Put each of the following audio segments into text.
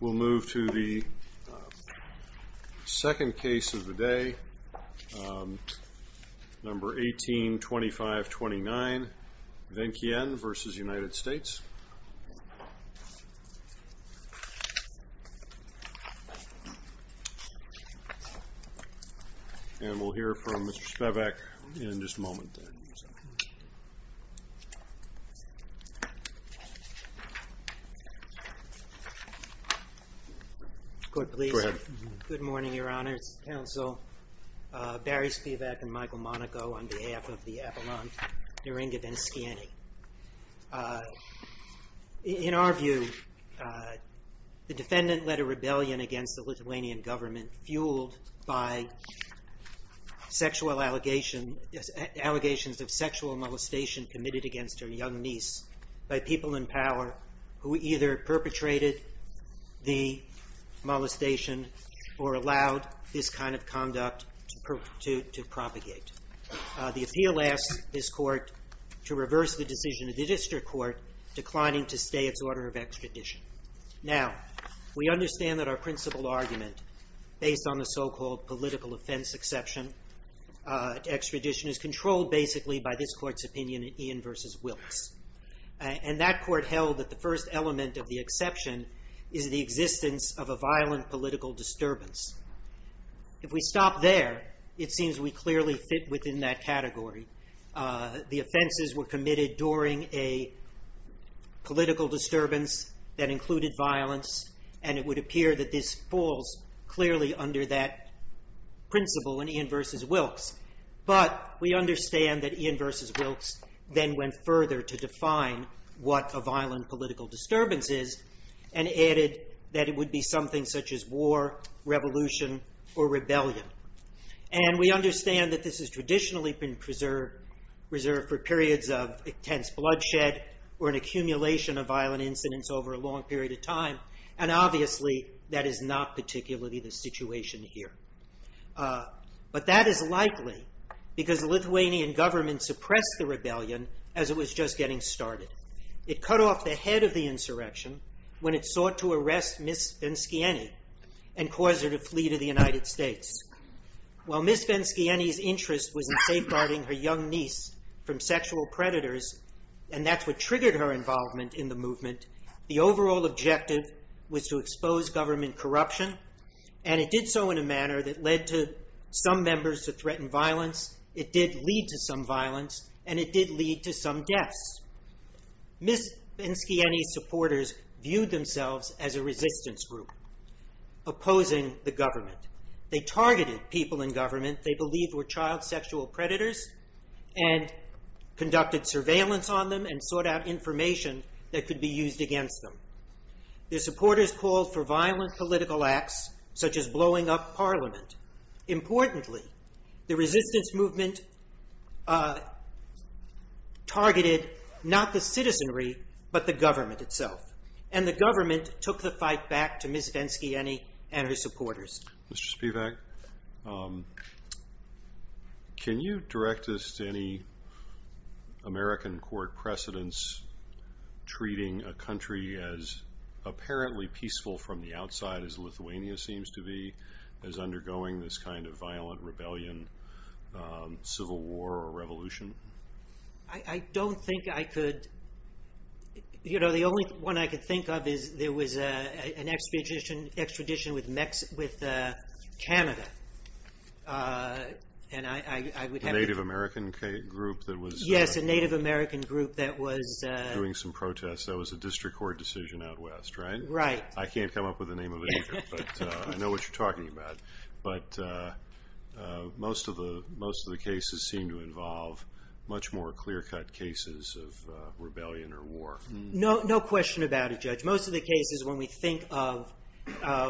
We'll move to the second case of the day, number 182529 Venckiene v. United States. And we'll hear from Mr. Spevak in just a moment. Court, please. Go ahead. Good morning, Your Honor. It's counsel Barry Spevak and Michael Monaco on behalf of the Avalon Neringa Venckiene. In our view, the defendant led a rebellion against the Lithuanian government fueled by sexual allegations of sexual molestation committed against her young niece by people in power who either perpetrated the molestation or allowed this kind of conduct to propagate. The appeal asks this court to reverse the decision of the district court declining to stay its order of extradition. Now, we understand that our principal argument based on the so-called political offense exception to extradition is controlled basically by this court's opinion in Ian v. Wilkes. And that court held that the first element of the exception is the existence of a violent political disturbance. If we stop there, it seems we clearly fit within that category. The offenses were committed during a political disturbance that included violence, and it would appear that this falls clearly under that principle in Ian v. Wilkes. But we understand that Ian v. Wilkes then went further to define what a violent political disturbance is and added that it would be something such as war, revolution, or rebellion. And we understand that this has traditionally been preserved for periods of intense bloodshed or an accumulation of violent incidents over a long period of time. And obviously, that is not particularly the situation here. But that is likely because the Lithuanian government suppressed the rebellion as it was just getting started. It cut off the head of the insurrection when it sought to arrest Ms. Venskiany and cause her to flee to the United States. While Ms. Venskiany's interest was in safeguarding her young niece from sexual predators, and that's what triggered her involvement in the movement, the overall objective was to expose government corruption. And it did so in a manner that led to some members to threaten violence. It did lead to some violence, and it did lead to some deaths. Ms. Venskiany's supporters viewed themselves as a resistance group opposing the government. They targeted people in government they believed were child sexual predators and conducted surveillance on them and sought out information that could be used against them. Their supporters called for violent political acts such as blowing up Parliament. Importantly, the resistance movement targeted not the citizenry, but the government itself. And the government took the fight back to Ms. Venskiany and her supporters. Mr. Spivak, can you direct us to any American court precedents treating a country as apparently peaceful from the outside as Lithuania seems to be, as undergoing this kind of violent rebellion, civil war or revolution? I don't think I could. The only one I could think of is there was an extradition with Canada. A Native American group that was doing some protests. That was a district court decision out west, right? Right. I can't come up with the name of it, but I know what you're talking about. But most of the cases seem to involve much more clear-cut cases of rebellion or war. No question about it, Judge. Most of the cases, when we think of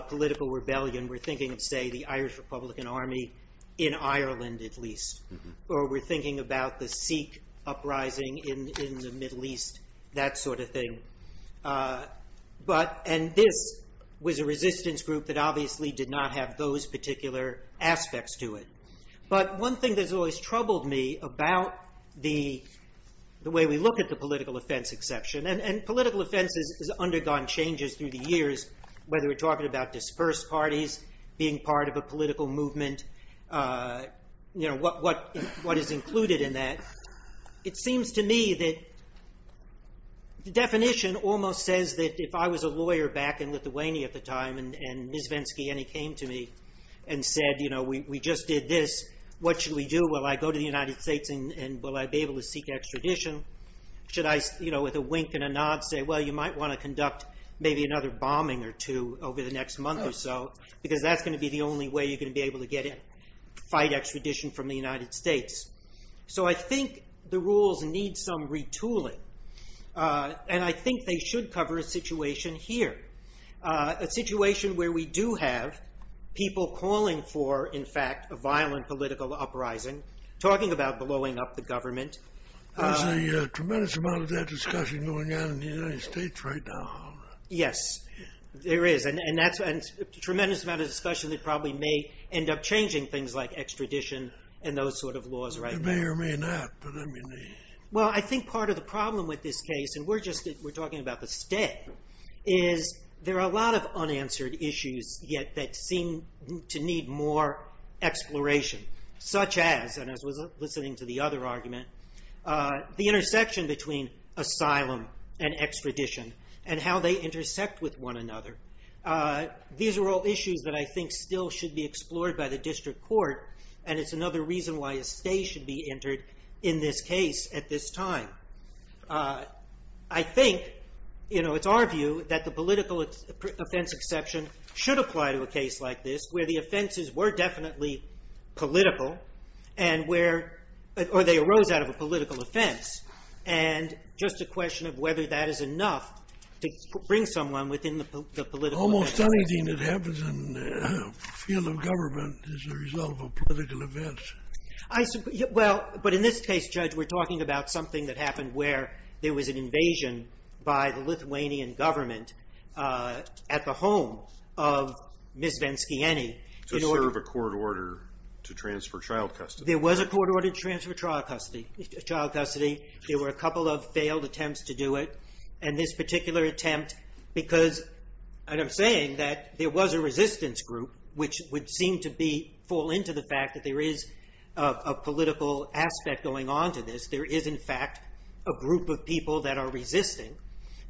political rebellion, we're thinking of, say, the Irish Republican Army in Ireland, at least. Or we're thinking about the Sikh uprising in the Middle East, that sort of thing. And this was a resistance group that obviously did not have those particular aspects to it. But one thing that has always troubled me about the way we look at the political offense exception, and political offense has undergone changes through the years, whether we're talking about dispersed parties, being part of a political movement, what is included in that. It seems to me that the definition almost says that if I was a lawyer back in Lithuania at the time, and Ms. Venskyene came to me and said, we just did this, what should we do? Will I go to the United States and will I be able to seek extradition? Should I, with a wink and a nod, say, well, you might want to conduct maybe another bombing or two over the next month or so? Because that's going to be the only way you're going to be able to fight extradition from the United States. So I think the rules need some retooling. And I think they should cover a situation here, a situation where we do have people calling for, in fact, a violent political uprising, talking about blowing up the government. There's a tremendous amount of that discussion going on in the United States right now. Yes, there is. And a tremendous amount of discussion that probably may end up changing things like extradition and those sort of laws right now. You may or may not. Well, I think part of the problem with this case, and we're talking about the state, is there are a lot of unanswered issues yet that seem to need more exploration. Such as, and as I was listening to the other argument, the intersection between asylum and extradition and how they intersect with one another. These are all issues that I think still should be explored by the district court. And it's another reason why a state should be entered in this case at this time. I think, you know, it's our view that the political offense exception should apply to a case like this, where the offenses were definitely political. And where, or they arose out of a political offense. And just a question of whether that is enough to bring someone within the political offense. Almost anything that happens in the field of government is a result of a political offense. Well, but in this case, Judge, we're talking about something that happened where there was an invasion by the Lithuanian government at the home of Ms. Venskiany. To serve a court order to transfer child custody. There was a court order to transfer child custody. There were a couple of failed attempts to do it. And this particular attempt, because, and I'm saying that there was a resistance group, which would seem to be, fall into the fact that there is a political aspect going on to this. There is, in fact, a group of people that are resisting.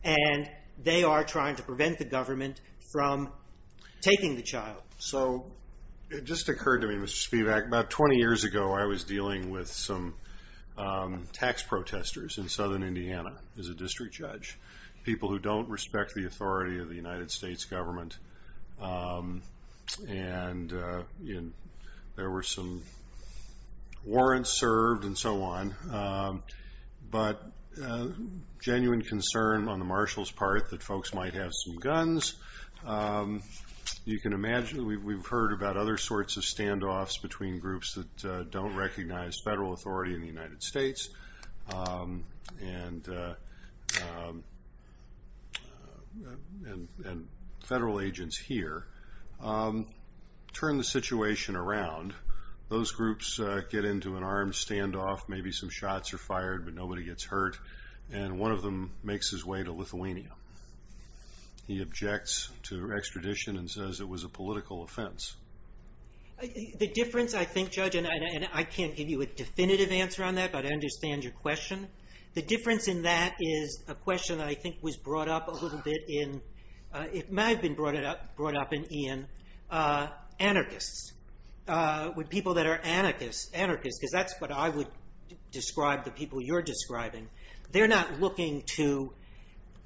And they are trying to prevent the government from taking the child. So, it just occurred to me, Mr. Spivak, about 20 years ago I was dealing with some tax protesters in southern Indiana as a district judge. People who don't respect the authority of the United States government. And there were some warrants served and so on. But genuine concern on the marshal's part that folks might have some guns. You can imagine, we've heard about other sorts of standoffs between groups that don't recognize federal authority in the United States. And federal agents here. Turn the situation around. Those groups get into an armed standoff. Maybe some shots are fired, but nobody gets hurt. And one of them makes his way to Lithuania. He objects to extradition and says it was a political offense. The difference, I think, Judge, and I can't give you a definitive answer on that, but I understand your question. The difference in that is a question that I think was brought up a little bit in, it might have been brought up in Ian. Anarchists. With people that are anarchists, because that's what I would describe the people you're describing. They're not looking to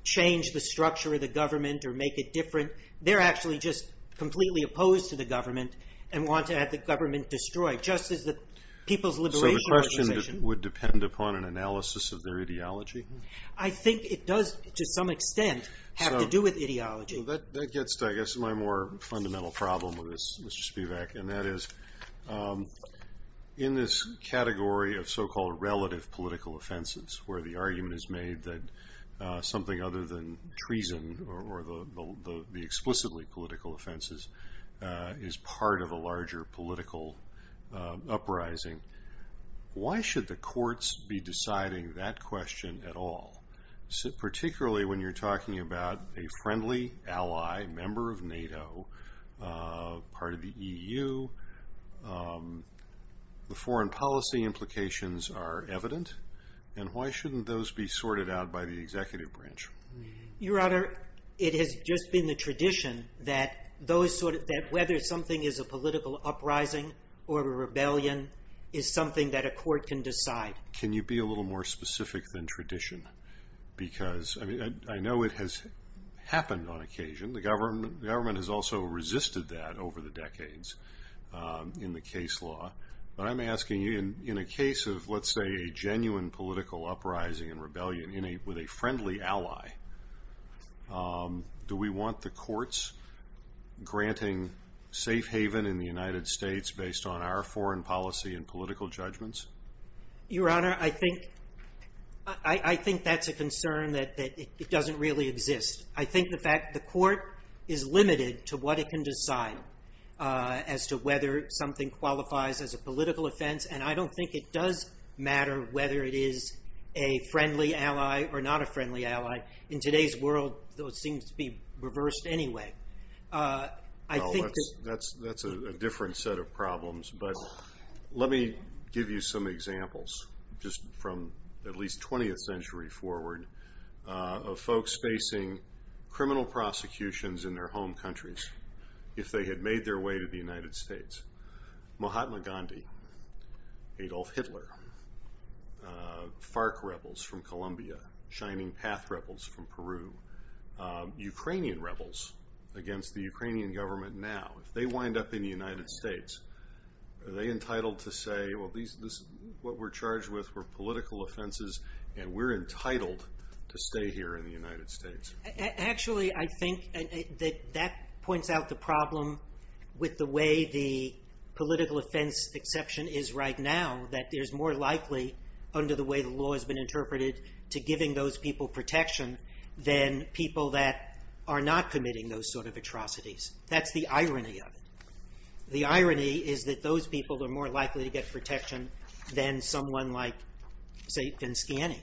change the structure of the government or make it different. They're actually just completely opposed to the government and want to have the government destroyed. Just as the people's liberation organization. So the question would depend upon an analysis of their ideology? I think it does, to some extent, have to do with ideology. That gets to, I guess, my more fundamental problem with this, Mr. Spivak. And that is, in this category of so-called relative political offenses, where the argument is made that something other than treason or the explicitly political offenses is part of a larger political uprising. Why should the courts be deciding that question at all? Particularly when you're talking about a friendly ally, member of NATO, part of the EU. The foreign policy implications are evident. And why shouldn't those be sorted out by the executive branch? Your Honor, it has just been the tradition that whether something is a political uprising or a rebellion is something that a court can decide. Can you be a little more specific than tradition? Because I know it has happened on occasion. The government has also resisted that over the decades in the case law. But I'm asking you, in a case of, let's say, a genuine political uprising and rebellion with a friendly ally, do we want the courts granting safe haven in the United States based on our foreign policy and political judgments? Your Honor, I think that's a concern that it doesn't really exist. I think the court is limited to what it can decide as to whether something qualifies as a political offense. And I don't think it does matter whether it is a friendly ally or not a friendly ally. In today's world, it seems to be reversed anyway. That's a different set of problems. But let me give you some examples just from at least 20th century forward of folks facing criminal prosecutions in their home countries if they had made their way to the United States. Mahatma Gandhi, Adolf Hitler, FARC rebels from Colombia, Shining Path rebels from Peru, Ukrainian rebels against the Ukrainian government now. If they wind up in the United States, are they entitled to say, well, what we're charged with were political offenses and we're entitled to stay here in the United States? Actually, I think that that points out the problem with the way the political offense exception is right now, that there's more likely, under the way the law has been interpreted, to giving those people protection than people that are not committing those sort of atrocities. That's the irony of it. The irony is that those people are more likely to get protection than someone like, say, Vinsciani.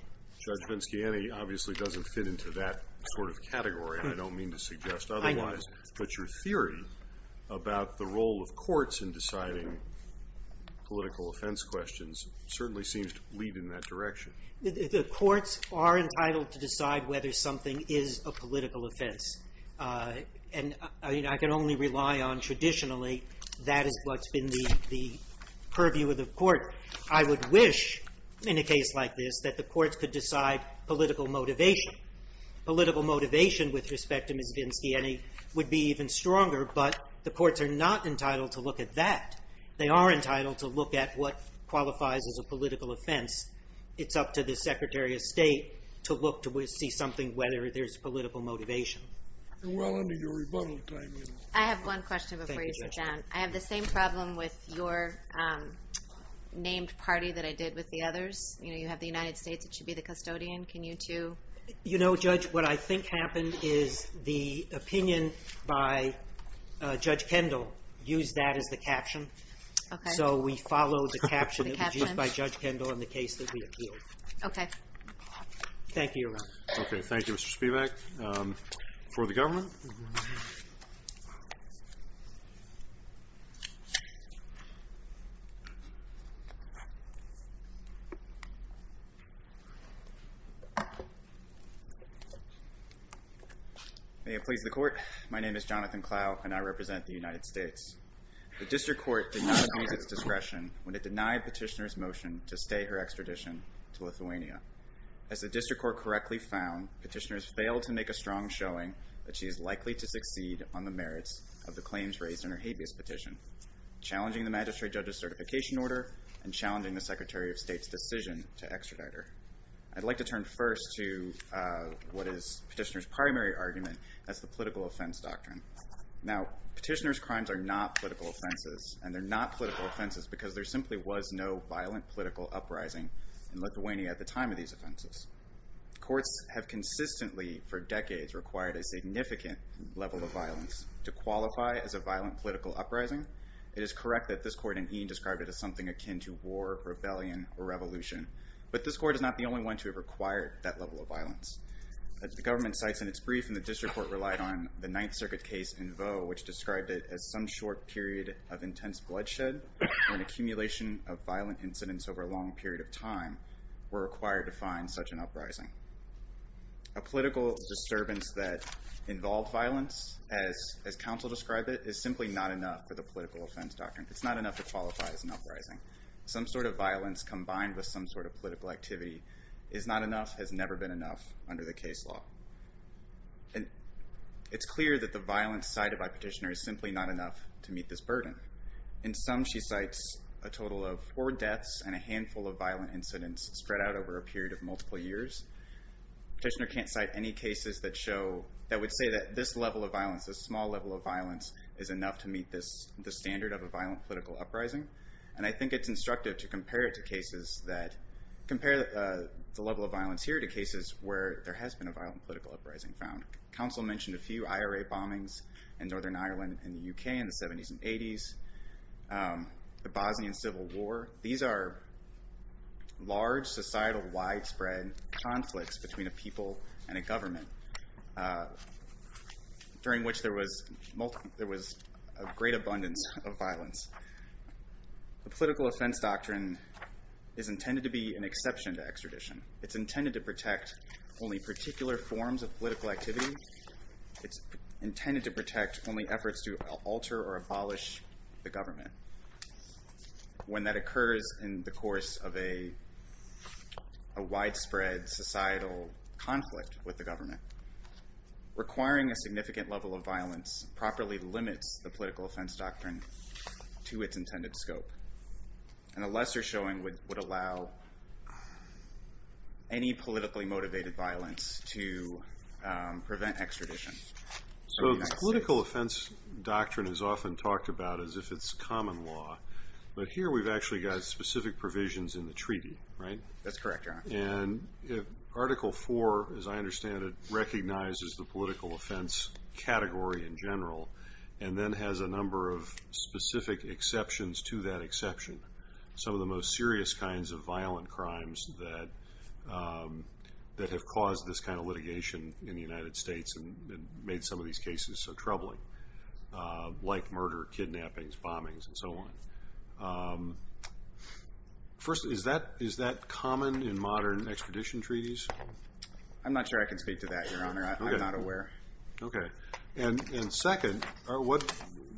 Judge Vinsciani obviously doesn't fit into that sort of category, and I don't mean to suggest otherwise. I know. But your theory about the role of courts in deciding political offense questions certainly seems to lead in that direction. The courts are entitled to decide whether something is a political offense, and I can only rely on traditionally that is what's been the purview of the court. I would wish in a case like this that the courts could decide political motivation, political motivation with respect to Ms. Vinsciani would be even stronger, but the courts are not entitled to look at that. They are entitled to look at what qualifies as a political offense. It's up to the Secretary of State to look to see something, whether there's political motivation. Well, under your rebuttal time, you know. I have one question before you sit down. Thank you, Justice. I have the same problem with your named party that I did with the others. You know, you have the United States that should be the custodian. Can you two? You know, Judge, what I think happened is the opinion by Judge Kendall used that as the caption. Okay. So we followed the caption that was used by Judge Kendall in the case that we appealed. Okay. Thank you, Your Honor. Okay. Thank you, Mr. Spivak. For the government. May it please the Court. My name is Jonathan Clough, and I represent the United States. The District Court did not use its discretion when it denied Petitioner's motion to stay her extradition to Lithuania. As the District Court correctly found, Petitioner has failed to make a strong showing that she is likely to succeed on the merits of the claims raised in her habeas petition, challenging the magistrate judge's certification order and challenging the Secretary of State's decision to extradite her. I'd like to turn first to what is Petitioner's primary argument, that's the political offense doctrine. Now, Petitioner's crimes are not political offenses, and they're not political offenses because there simply was no violent political uprising in Lithuania at the time of these offenses. Courts have consistently, for decades, required a significant level of violence to qualify as a violent political uprising. It is correct that this Court in Eton described it as something akin to war, rebellion, or revolution, but this Court is not the only one to have required that level of violence. As the government cites in its brief, and the District Court relied on the Ninth Circuit case in Vaux, which described it as some short period of intense bloodshed, and an accumulation of violent incidents over a long period of time, were required to find such an uprising. A political disturbance that involved violence, as counsel described it, is simply not enough for the political offense doctrine. It's not enough to qualify as an uprising. Some sort of violence combined with some sort of political activity is not enough, has never been enough under the case law. It's clear that the violence cited by Petitioner is simply not enough to meet this burden. In sum, she cites a total of four deaths and a handful of violent incidents spread out over a period of multiple years. Petitioner can't cite any cases that would say that this level of violence, this small level of violence, is enough to meet the standard of a violent political uprising. And I think it's instructive to compare the level of violence here to cases where there has been a violent political uprising found. Counsel mentioned a few IRA bombings in Northern Ireland and the UK in the 70s and 80s, the Bosnian Civil War. These are large societal widespread conflicts between a people and a government during which there was a great abundance of violence. The political offense doctrine is intended to be an exception to extradition. It's intended to protect only particular forms of political activity. It's intended to protect only efforts to alter or abolish the government. When that occurs in the course of a widespread societal conflict with the government, requiring a significant level of violence properly limits the political offense doctrine to its intended scope. And a lesser showing would allow any politically motivated violence to prevent extradition. So the political offense doctrine is often talked about as if it's common law. But here we've actually got specific provisions in the treaty, right? That's correct, Your Honor. And Article 4, as I understand it, recognizes the political offense category in general and then has a number of specific exceptions to that exception. Some of the most serious kinds of violent crimes that have caused this kind of litigation in the United States and made some of these cases so troubling, like murder, kidnappings, bombings, and so on. First, is that common in modern extradition treaties? I'm not sure I can speak to that, Your Honor. I'm not aware. Okay. And second,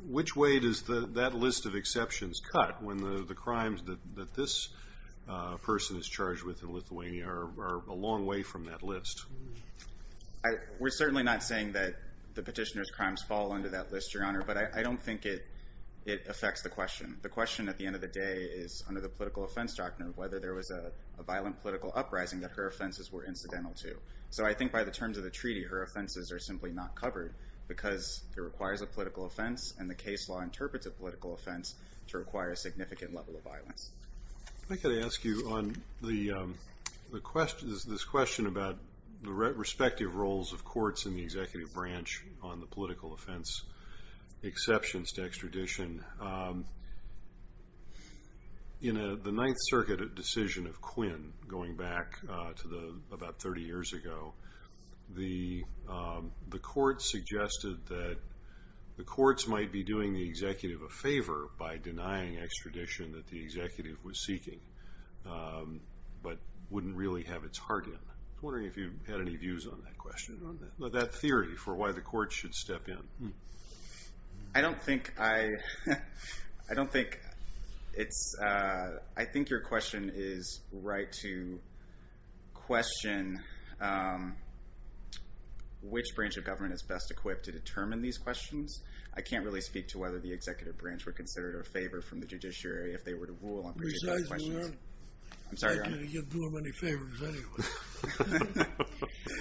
which way does that list of exceptions cut when the crimes that this person is charged with in Lithuania are a long way from that list? We're certainly not saying that the petitioner's crimes fall under that list, Your Honor, but I don't think it affects the question. The question at the end of the day is, under the political offense doctrine, whether there was a violent political uprising that her offenses were incidental to. So I think by the terms of the treaty, her offenses are simply not covered because it requires a political offense and the case law interprets a political offense to require a significant level of violence. I'm going to ask you on this question about the respective roles of courts in the executive branch on the political offense exceptions to extradition. In the Ninth Circuit decision of Quinn, going back to about 30 years ago, the courts suggested that the courts might be doing the executive a favor by denying extradition that the executive was seeking but wouldn't really have its heart in. I was wondering if you had any views on that question, on that theory for why the courts should step in. I don't think your question is right to question which branch of government is best equipped to determine these questions. I can't really speak to whether the executive branch were considered a favor from the judiciary if they were to rule on particular questions. I'm sorry, Your Honor. I can't do them any favors anyway.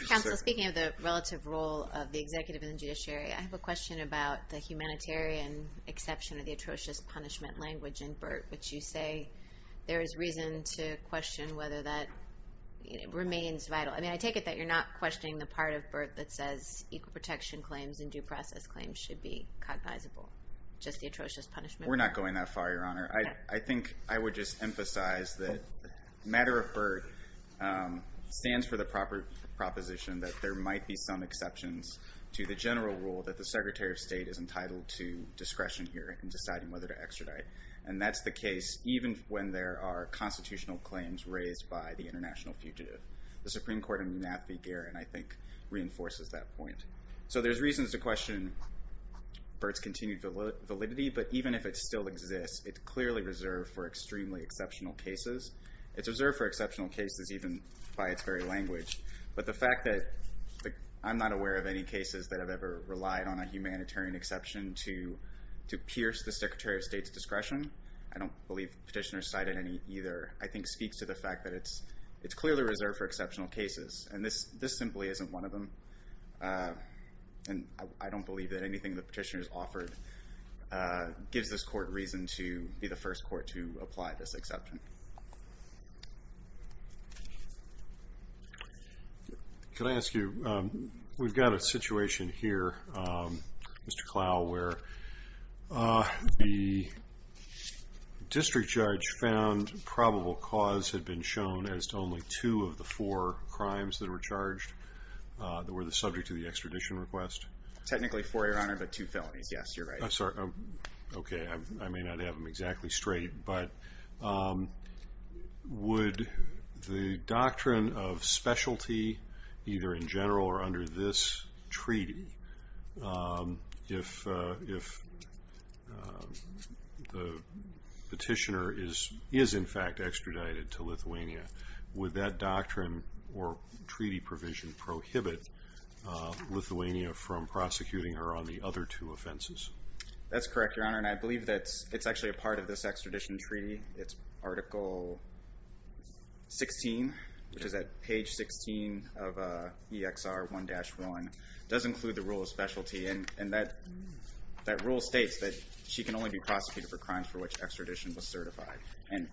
Counsel, speaking of the relative role of the executive and the judiciary, I have a question about the humanitarian exception of the atrocious punishment language in BERT, which you say there is reason to question whether that remains vital. I take it that you're not questioning the part of BERT that says equal protection claims and due process claims should be cognizable, just the atrocious punishment. We're not going that far, Your Honor. I think I would just emphasize that the matter of BERT stands for the proposition that there might be some exceptions to the general rule that the Secretary of State is entitled to discretion here in deciding whether to extradite, and that's the case even when there are constitutional claims raised by the international fugitive. The Supreme Court in Munafi-Garren, I think, reinforces that point. So there's reasons to question BERT's continued validity, but even if it still exists, it's clearly reserved for extremely exceptional cases. It's reserved for exceptional cases even by its very language, but the fact that I'm not aware of any cases that have ever relied on a humanitarian exception to pierce the Secretary of State's discretion, I don't believe the petitioner cited any either, I think speaks to the fact that it's clearly reserved for exceptional cases, and this simply isn't one of them. And I don't believe that anything the petitioner's offered gives this court reason to be the first court to apply this exception. Can I ask you, we've got a situation here, Mr. Clow, where the district judge found probable cause had been shown as to only two of the four crimes that were charged that were the subject of the extradition request. Technically four, Your Honor, but two felonies, yes, you're right. Okay, I may not have them exactly straight, but would the doctrine of specialty, either in general or under this treaty, if the petitioner is in fact extradited to Lithuania, would that doctrine or treaty provision prohibit Lithuania from prosecuting her on the other two offenses? That's correct, Your Honor, and I believe that it's actually a part of this extradition treaty. It's Article 16, which is at page 16 of EXR 1-1, does include the rule of specialty, and that rule states that she can only be prosecuted for crimes for which extradition was certified, and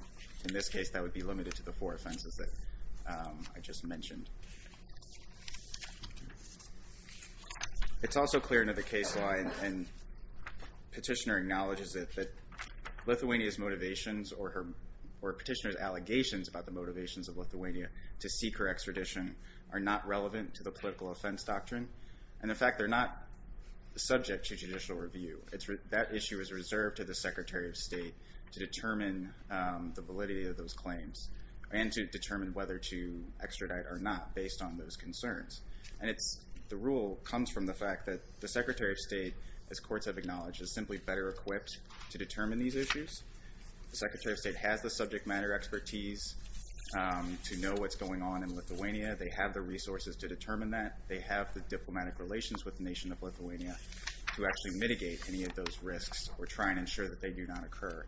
in this case that would be limited to the four offenses that I just mentioned. It's also clear in the case law, and the petitioner acknowledges it, that Lithuania's motivations or petitioner's allegations about the motivations of Lithuania to seek her extradition are not relevant to the political offense doctrine, and in fact they're not subject to judicial review. That issue is reserved to the Secretary of State to determine the validity of those claims and to determine whether to extradite or not based on those concerns, and the rule comes from the fact that the Secretary of State, as courts have acknowledged, is simply better equipped to determine these issues. The Secretary of State has the subject matter expertise to know what's going on in Lithuania. They have the resources to determine that. They have the diplomatic relations with the nation of Lithuania to actually mitigate any of those risks or try and ensure that they do not occur,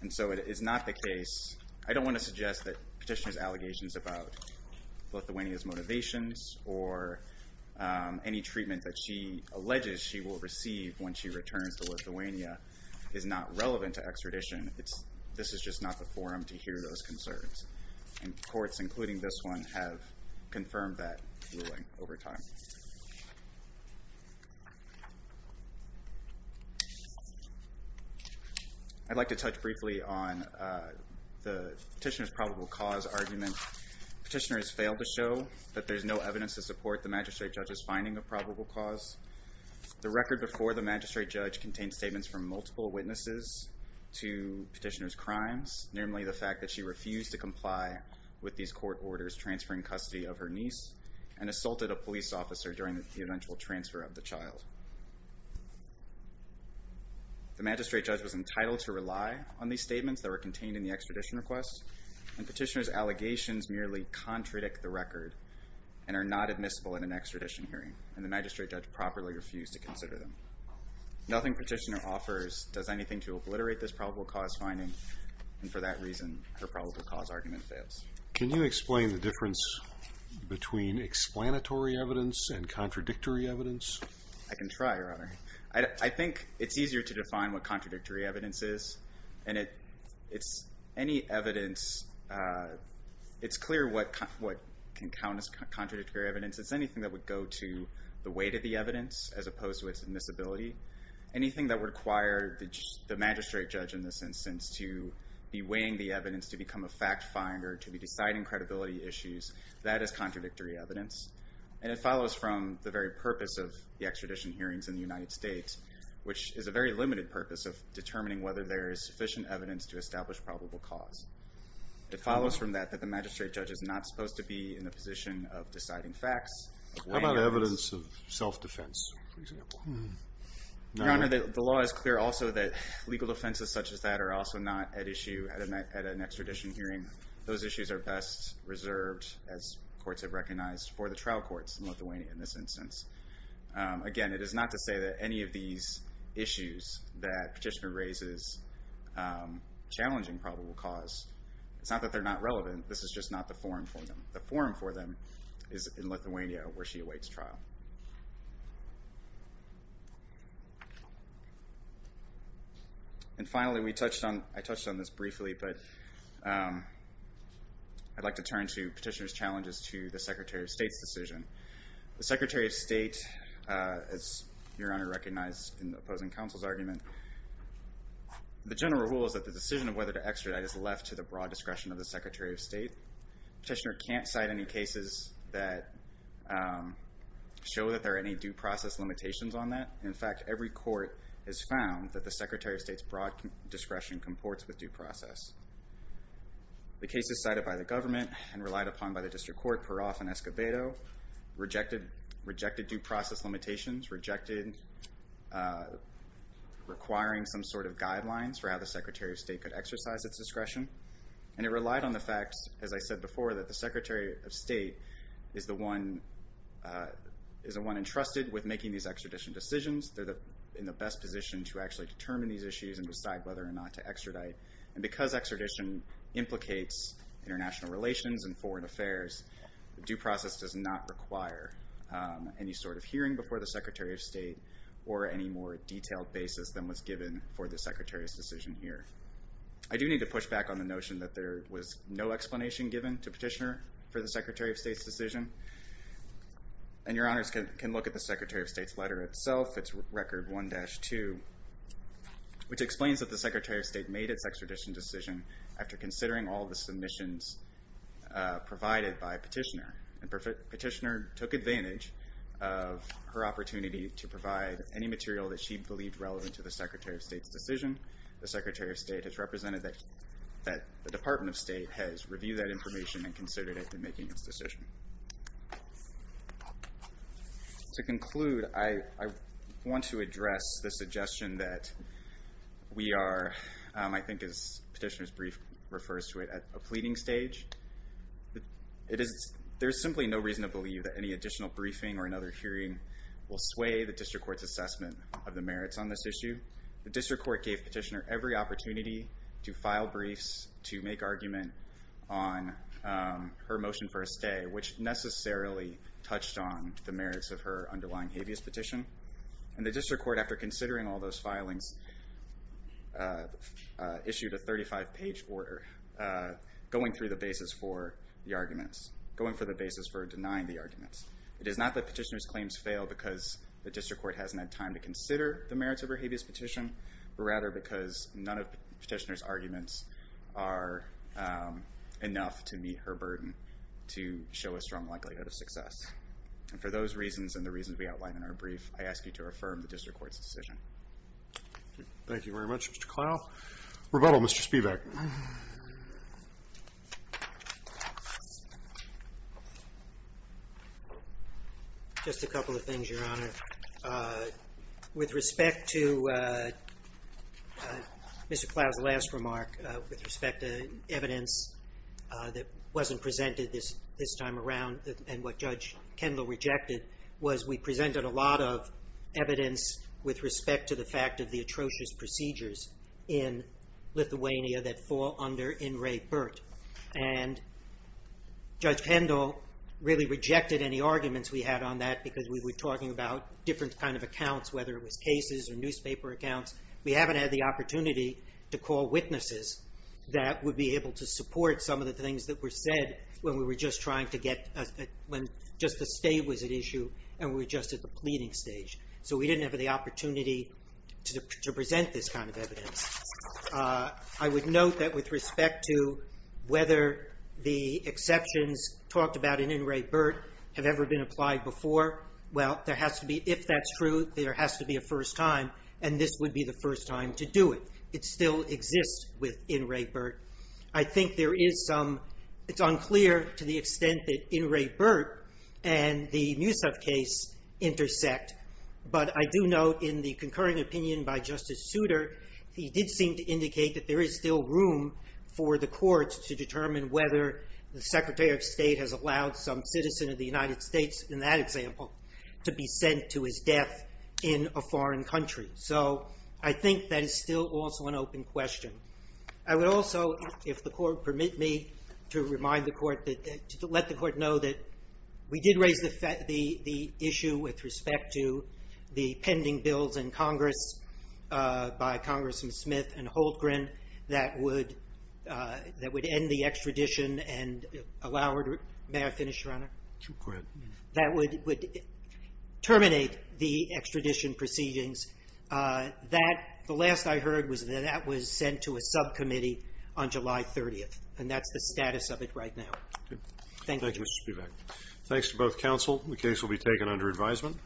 and so it is not the case. I don't want to suggest that petitioner's allegations about Lithuania's motivations or any treatment that she alleges she will receive when she returns to Lithuania is not relevant to extradition. This is just not the forum to hear those concerns, and courts, including this one, have confirmed that ruling over time. I'd like to touch briefly on the petitioner's probable cause argument. Petitioners failed to show that there's no evidence to support the magistrate judge's finding of probable cause. The record before the magistrate judge contained statements from multiple witnesses to petitioner's crimes, namely the fact that she refused to comply with these court orders transferring custody of her niece and assaulted a police officer during the eventual transfer of the child. The magistrate judge was entitled to rely on these statements that were contained in the extradition request, and petitioner's allegations merely contradict the record and are not admissible in an extradition hearing, and the magistrate judge properly refused to consider them. Nothing petitioner offers does anything to obliterate this probable cause finding, and for that reason, her probable cause argument fails. Can you explain the difference between explanatory evidence and contradictory evidence? I can try, Your Honor. I think it's easier to define what contradictory evidence is, and it's any evidence. It's clear what can count as contradictory evidence. It's anything that would go to the weight of the evidence as opposed to its admissibility. Anything that would require the magistrate judge in this instance to be weighing the evidence to become a fact finder, to be deciding credibility issues, that is contradictory evidence. And it follows from the very purpose of the extradition hearings in the United States, which is a very limited purpose of determining whether there is sufficient evidence to establish probable cause. It follows from that that the magistrate judge is not supposed to be in the position of deciding facts. How about evidence of self-defense, for example? Your Honor, the law is clear also that legal defenses such as that are also not at issue at an extradition hearing. Those issues are best reserved, as courts have recognized, for the trial courts in Lithuania in this instance. Again, it is not to say that any of these issues that petitioner raises challenging probable cause, it's not that they're not relevant. This is just not the forum for them. The forum for them is in Lithuania, where she awaits trial. And finally, I touched on this briefly, but I'd like to turn to petitioner's challenges to the Secretary of State's decision. The Secretary of State, as Your Honor recognized in the opposing counsel's argument, the general rule is that the decision of whether to extradite is left to the broad discretion of the Secretary of State. Petitioner can't cite any cases that show that there are any due process limitations on that. In fact, every court has found that the Secretary of State's broad discretion comports with due process. The cases cited by the government and relied upon by the district court, Peroff and Escobedo, rejected due process limitations, rejected requiring some sort of guidelines for how the Secretary of State could exercise its discretion, and it relied on the fact, as I said before, that the Secretary of State is the one entrusted with making these extradition decisions. They're in the best position to actually determine these issues and decide whether or not to extradite. And because extradition implicates international relations and foreign affairs, due process does not require any sort of hearing before the Secretary of State or any more detailed basis than was given for the Secretary's decision here. I do need to push back on the notion that there was no explanation given to Petitioner for the Secretary of State's decision. And Your Honors can look at the Secretary of State's letter itself. It's Record 1-2, which explains that the Secretary of State made its extradition decision after considering all the submissions provided by Petitioner. And Petitioner took advantage of her opportunity to provide any material that she believed relevant to the Secretary of State's decision. The Secretary of State has represented that the Department of State has reviewed that information and considered it in making its decision. To conclude, I want to address the suggestion that we are, I think as Petitioner's brief refers to it, at a pleading stage. There is simply no reason to believe that any additional briefing or another hearing will sway the District Court's assessment of the merits on this issue. The District Court gave Petitioner every opportunity to file briefs, to make argument on her motion for a stay, which necessarily touched on the merits of her underlying habeas petition. And the District Court, after considering all those filings, issued a 35-page order going through the basis for the arguments, going through the basis for denying the arguments. It is not that Petitioner's claims fail because the District Court hasn't had time to consider the merits of her habeas petition, but rather because none of Petitioner's arguments are enough to meet her burden to show a strong likelihood of success. And for those reasons and the reasons we outline in our brief, I ask you to affirm the District Court's decision. Thank you very much, Mr. Clough. Rebuttal, Mr. Spivak. Just a couple of things, Your Honor. With respect to Mr. Clough's last remark, with respect to evidence that wasn't presented this time around and what Judge Kendall rejected, was we presented a lot of evidence with respect to the fact of the atrocious procedures in Lithuania that fall under In Re Burt. And Judge Kendall really rejected any arguments we had on that because we were talking about different kind of accounts, whether it was cases or newspaper accounts. We haven't had the opportunity to call witnesses that would be able to support some of the things that were said when we were just trying to get... when just the state was at issue and we were just at the pleading stage. So we didn't have the opportunity to present this kind of evidence. I would note that with respect to whether the exceptions talked about in In Re Burt have ever been applied before, well, if that's true, there has to be a first time and this would be the first time to do it. It still exists with In Re Burt. I think there is some... It's unclear to the extent that In Re Burt and the Musev case intersect, but I do note in the concurring opinion by Justice Souter, he did seem to indicate that there is still room for the courts to determine whether the Secretary of State has allowed some citizen of the United States, in that example, to be sent to his death in a foreign country. So I think that is still also an open question. I would also, if the Court permit me, to remind the Court that... to let the Court know that we did raise the issue with respect to the pending bills in Congress by Congressman Smith and Holcren that would end the extradition and allow... May I finish, Your Honor? Go ahead. That would terminate the extradition proceedings. That, the last I heard, was that that was sent to a subcommittee on July 30th and that's the status of it right now. Thank you. Thank you, Mr. Spivak. Thanks to both counsel. The case will be taken under advisement.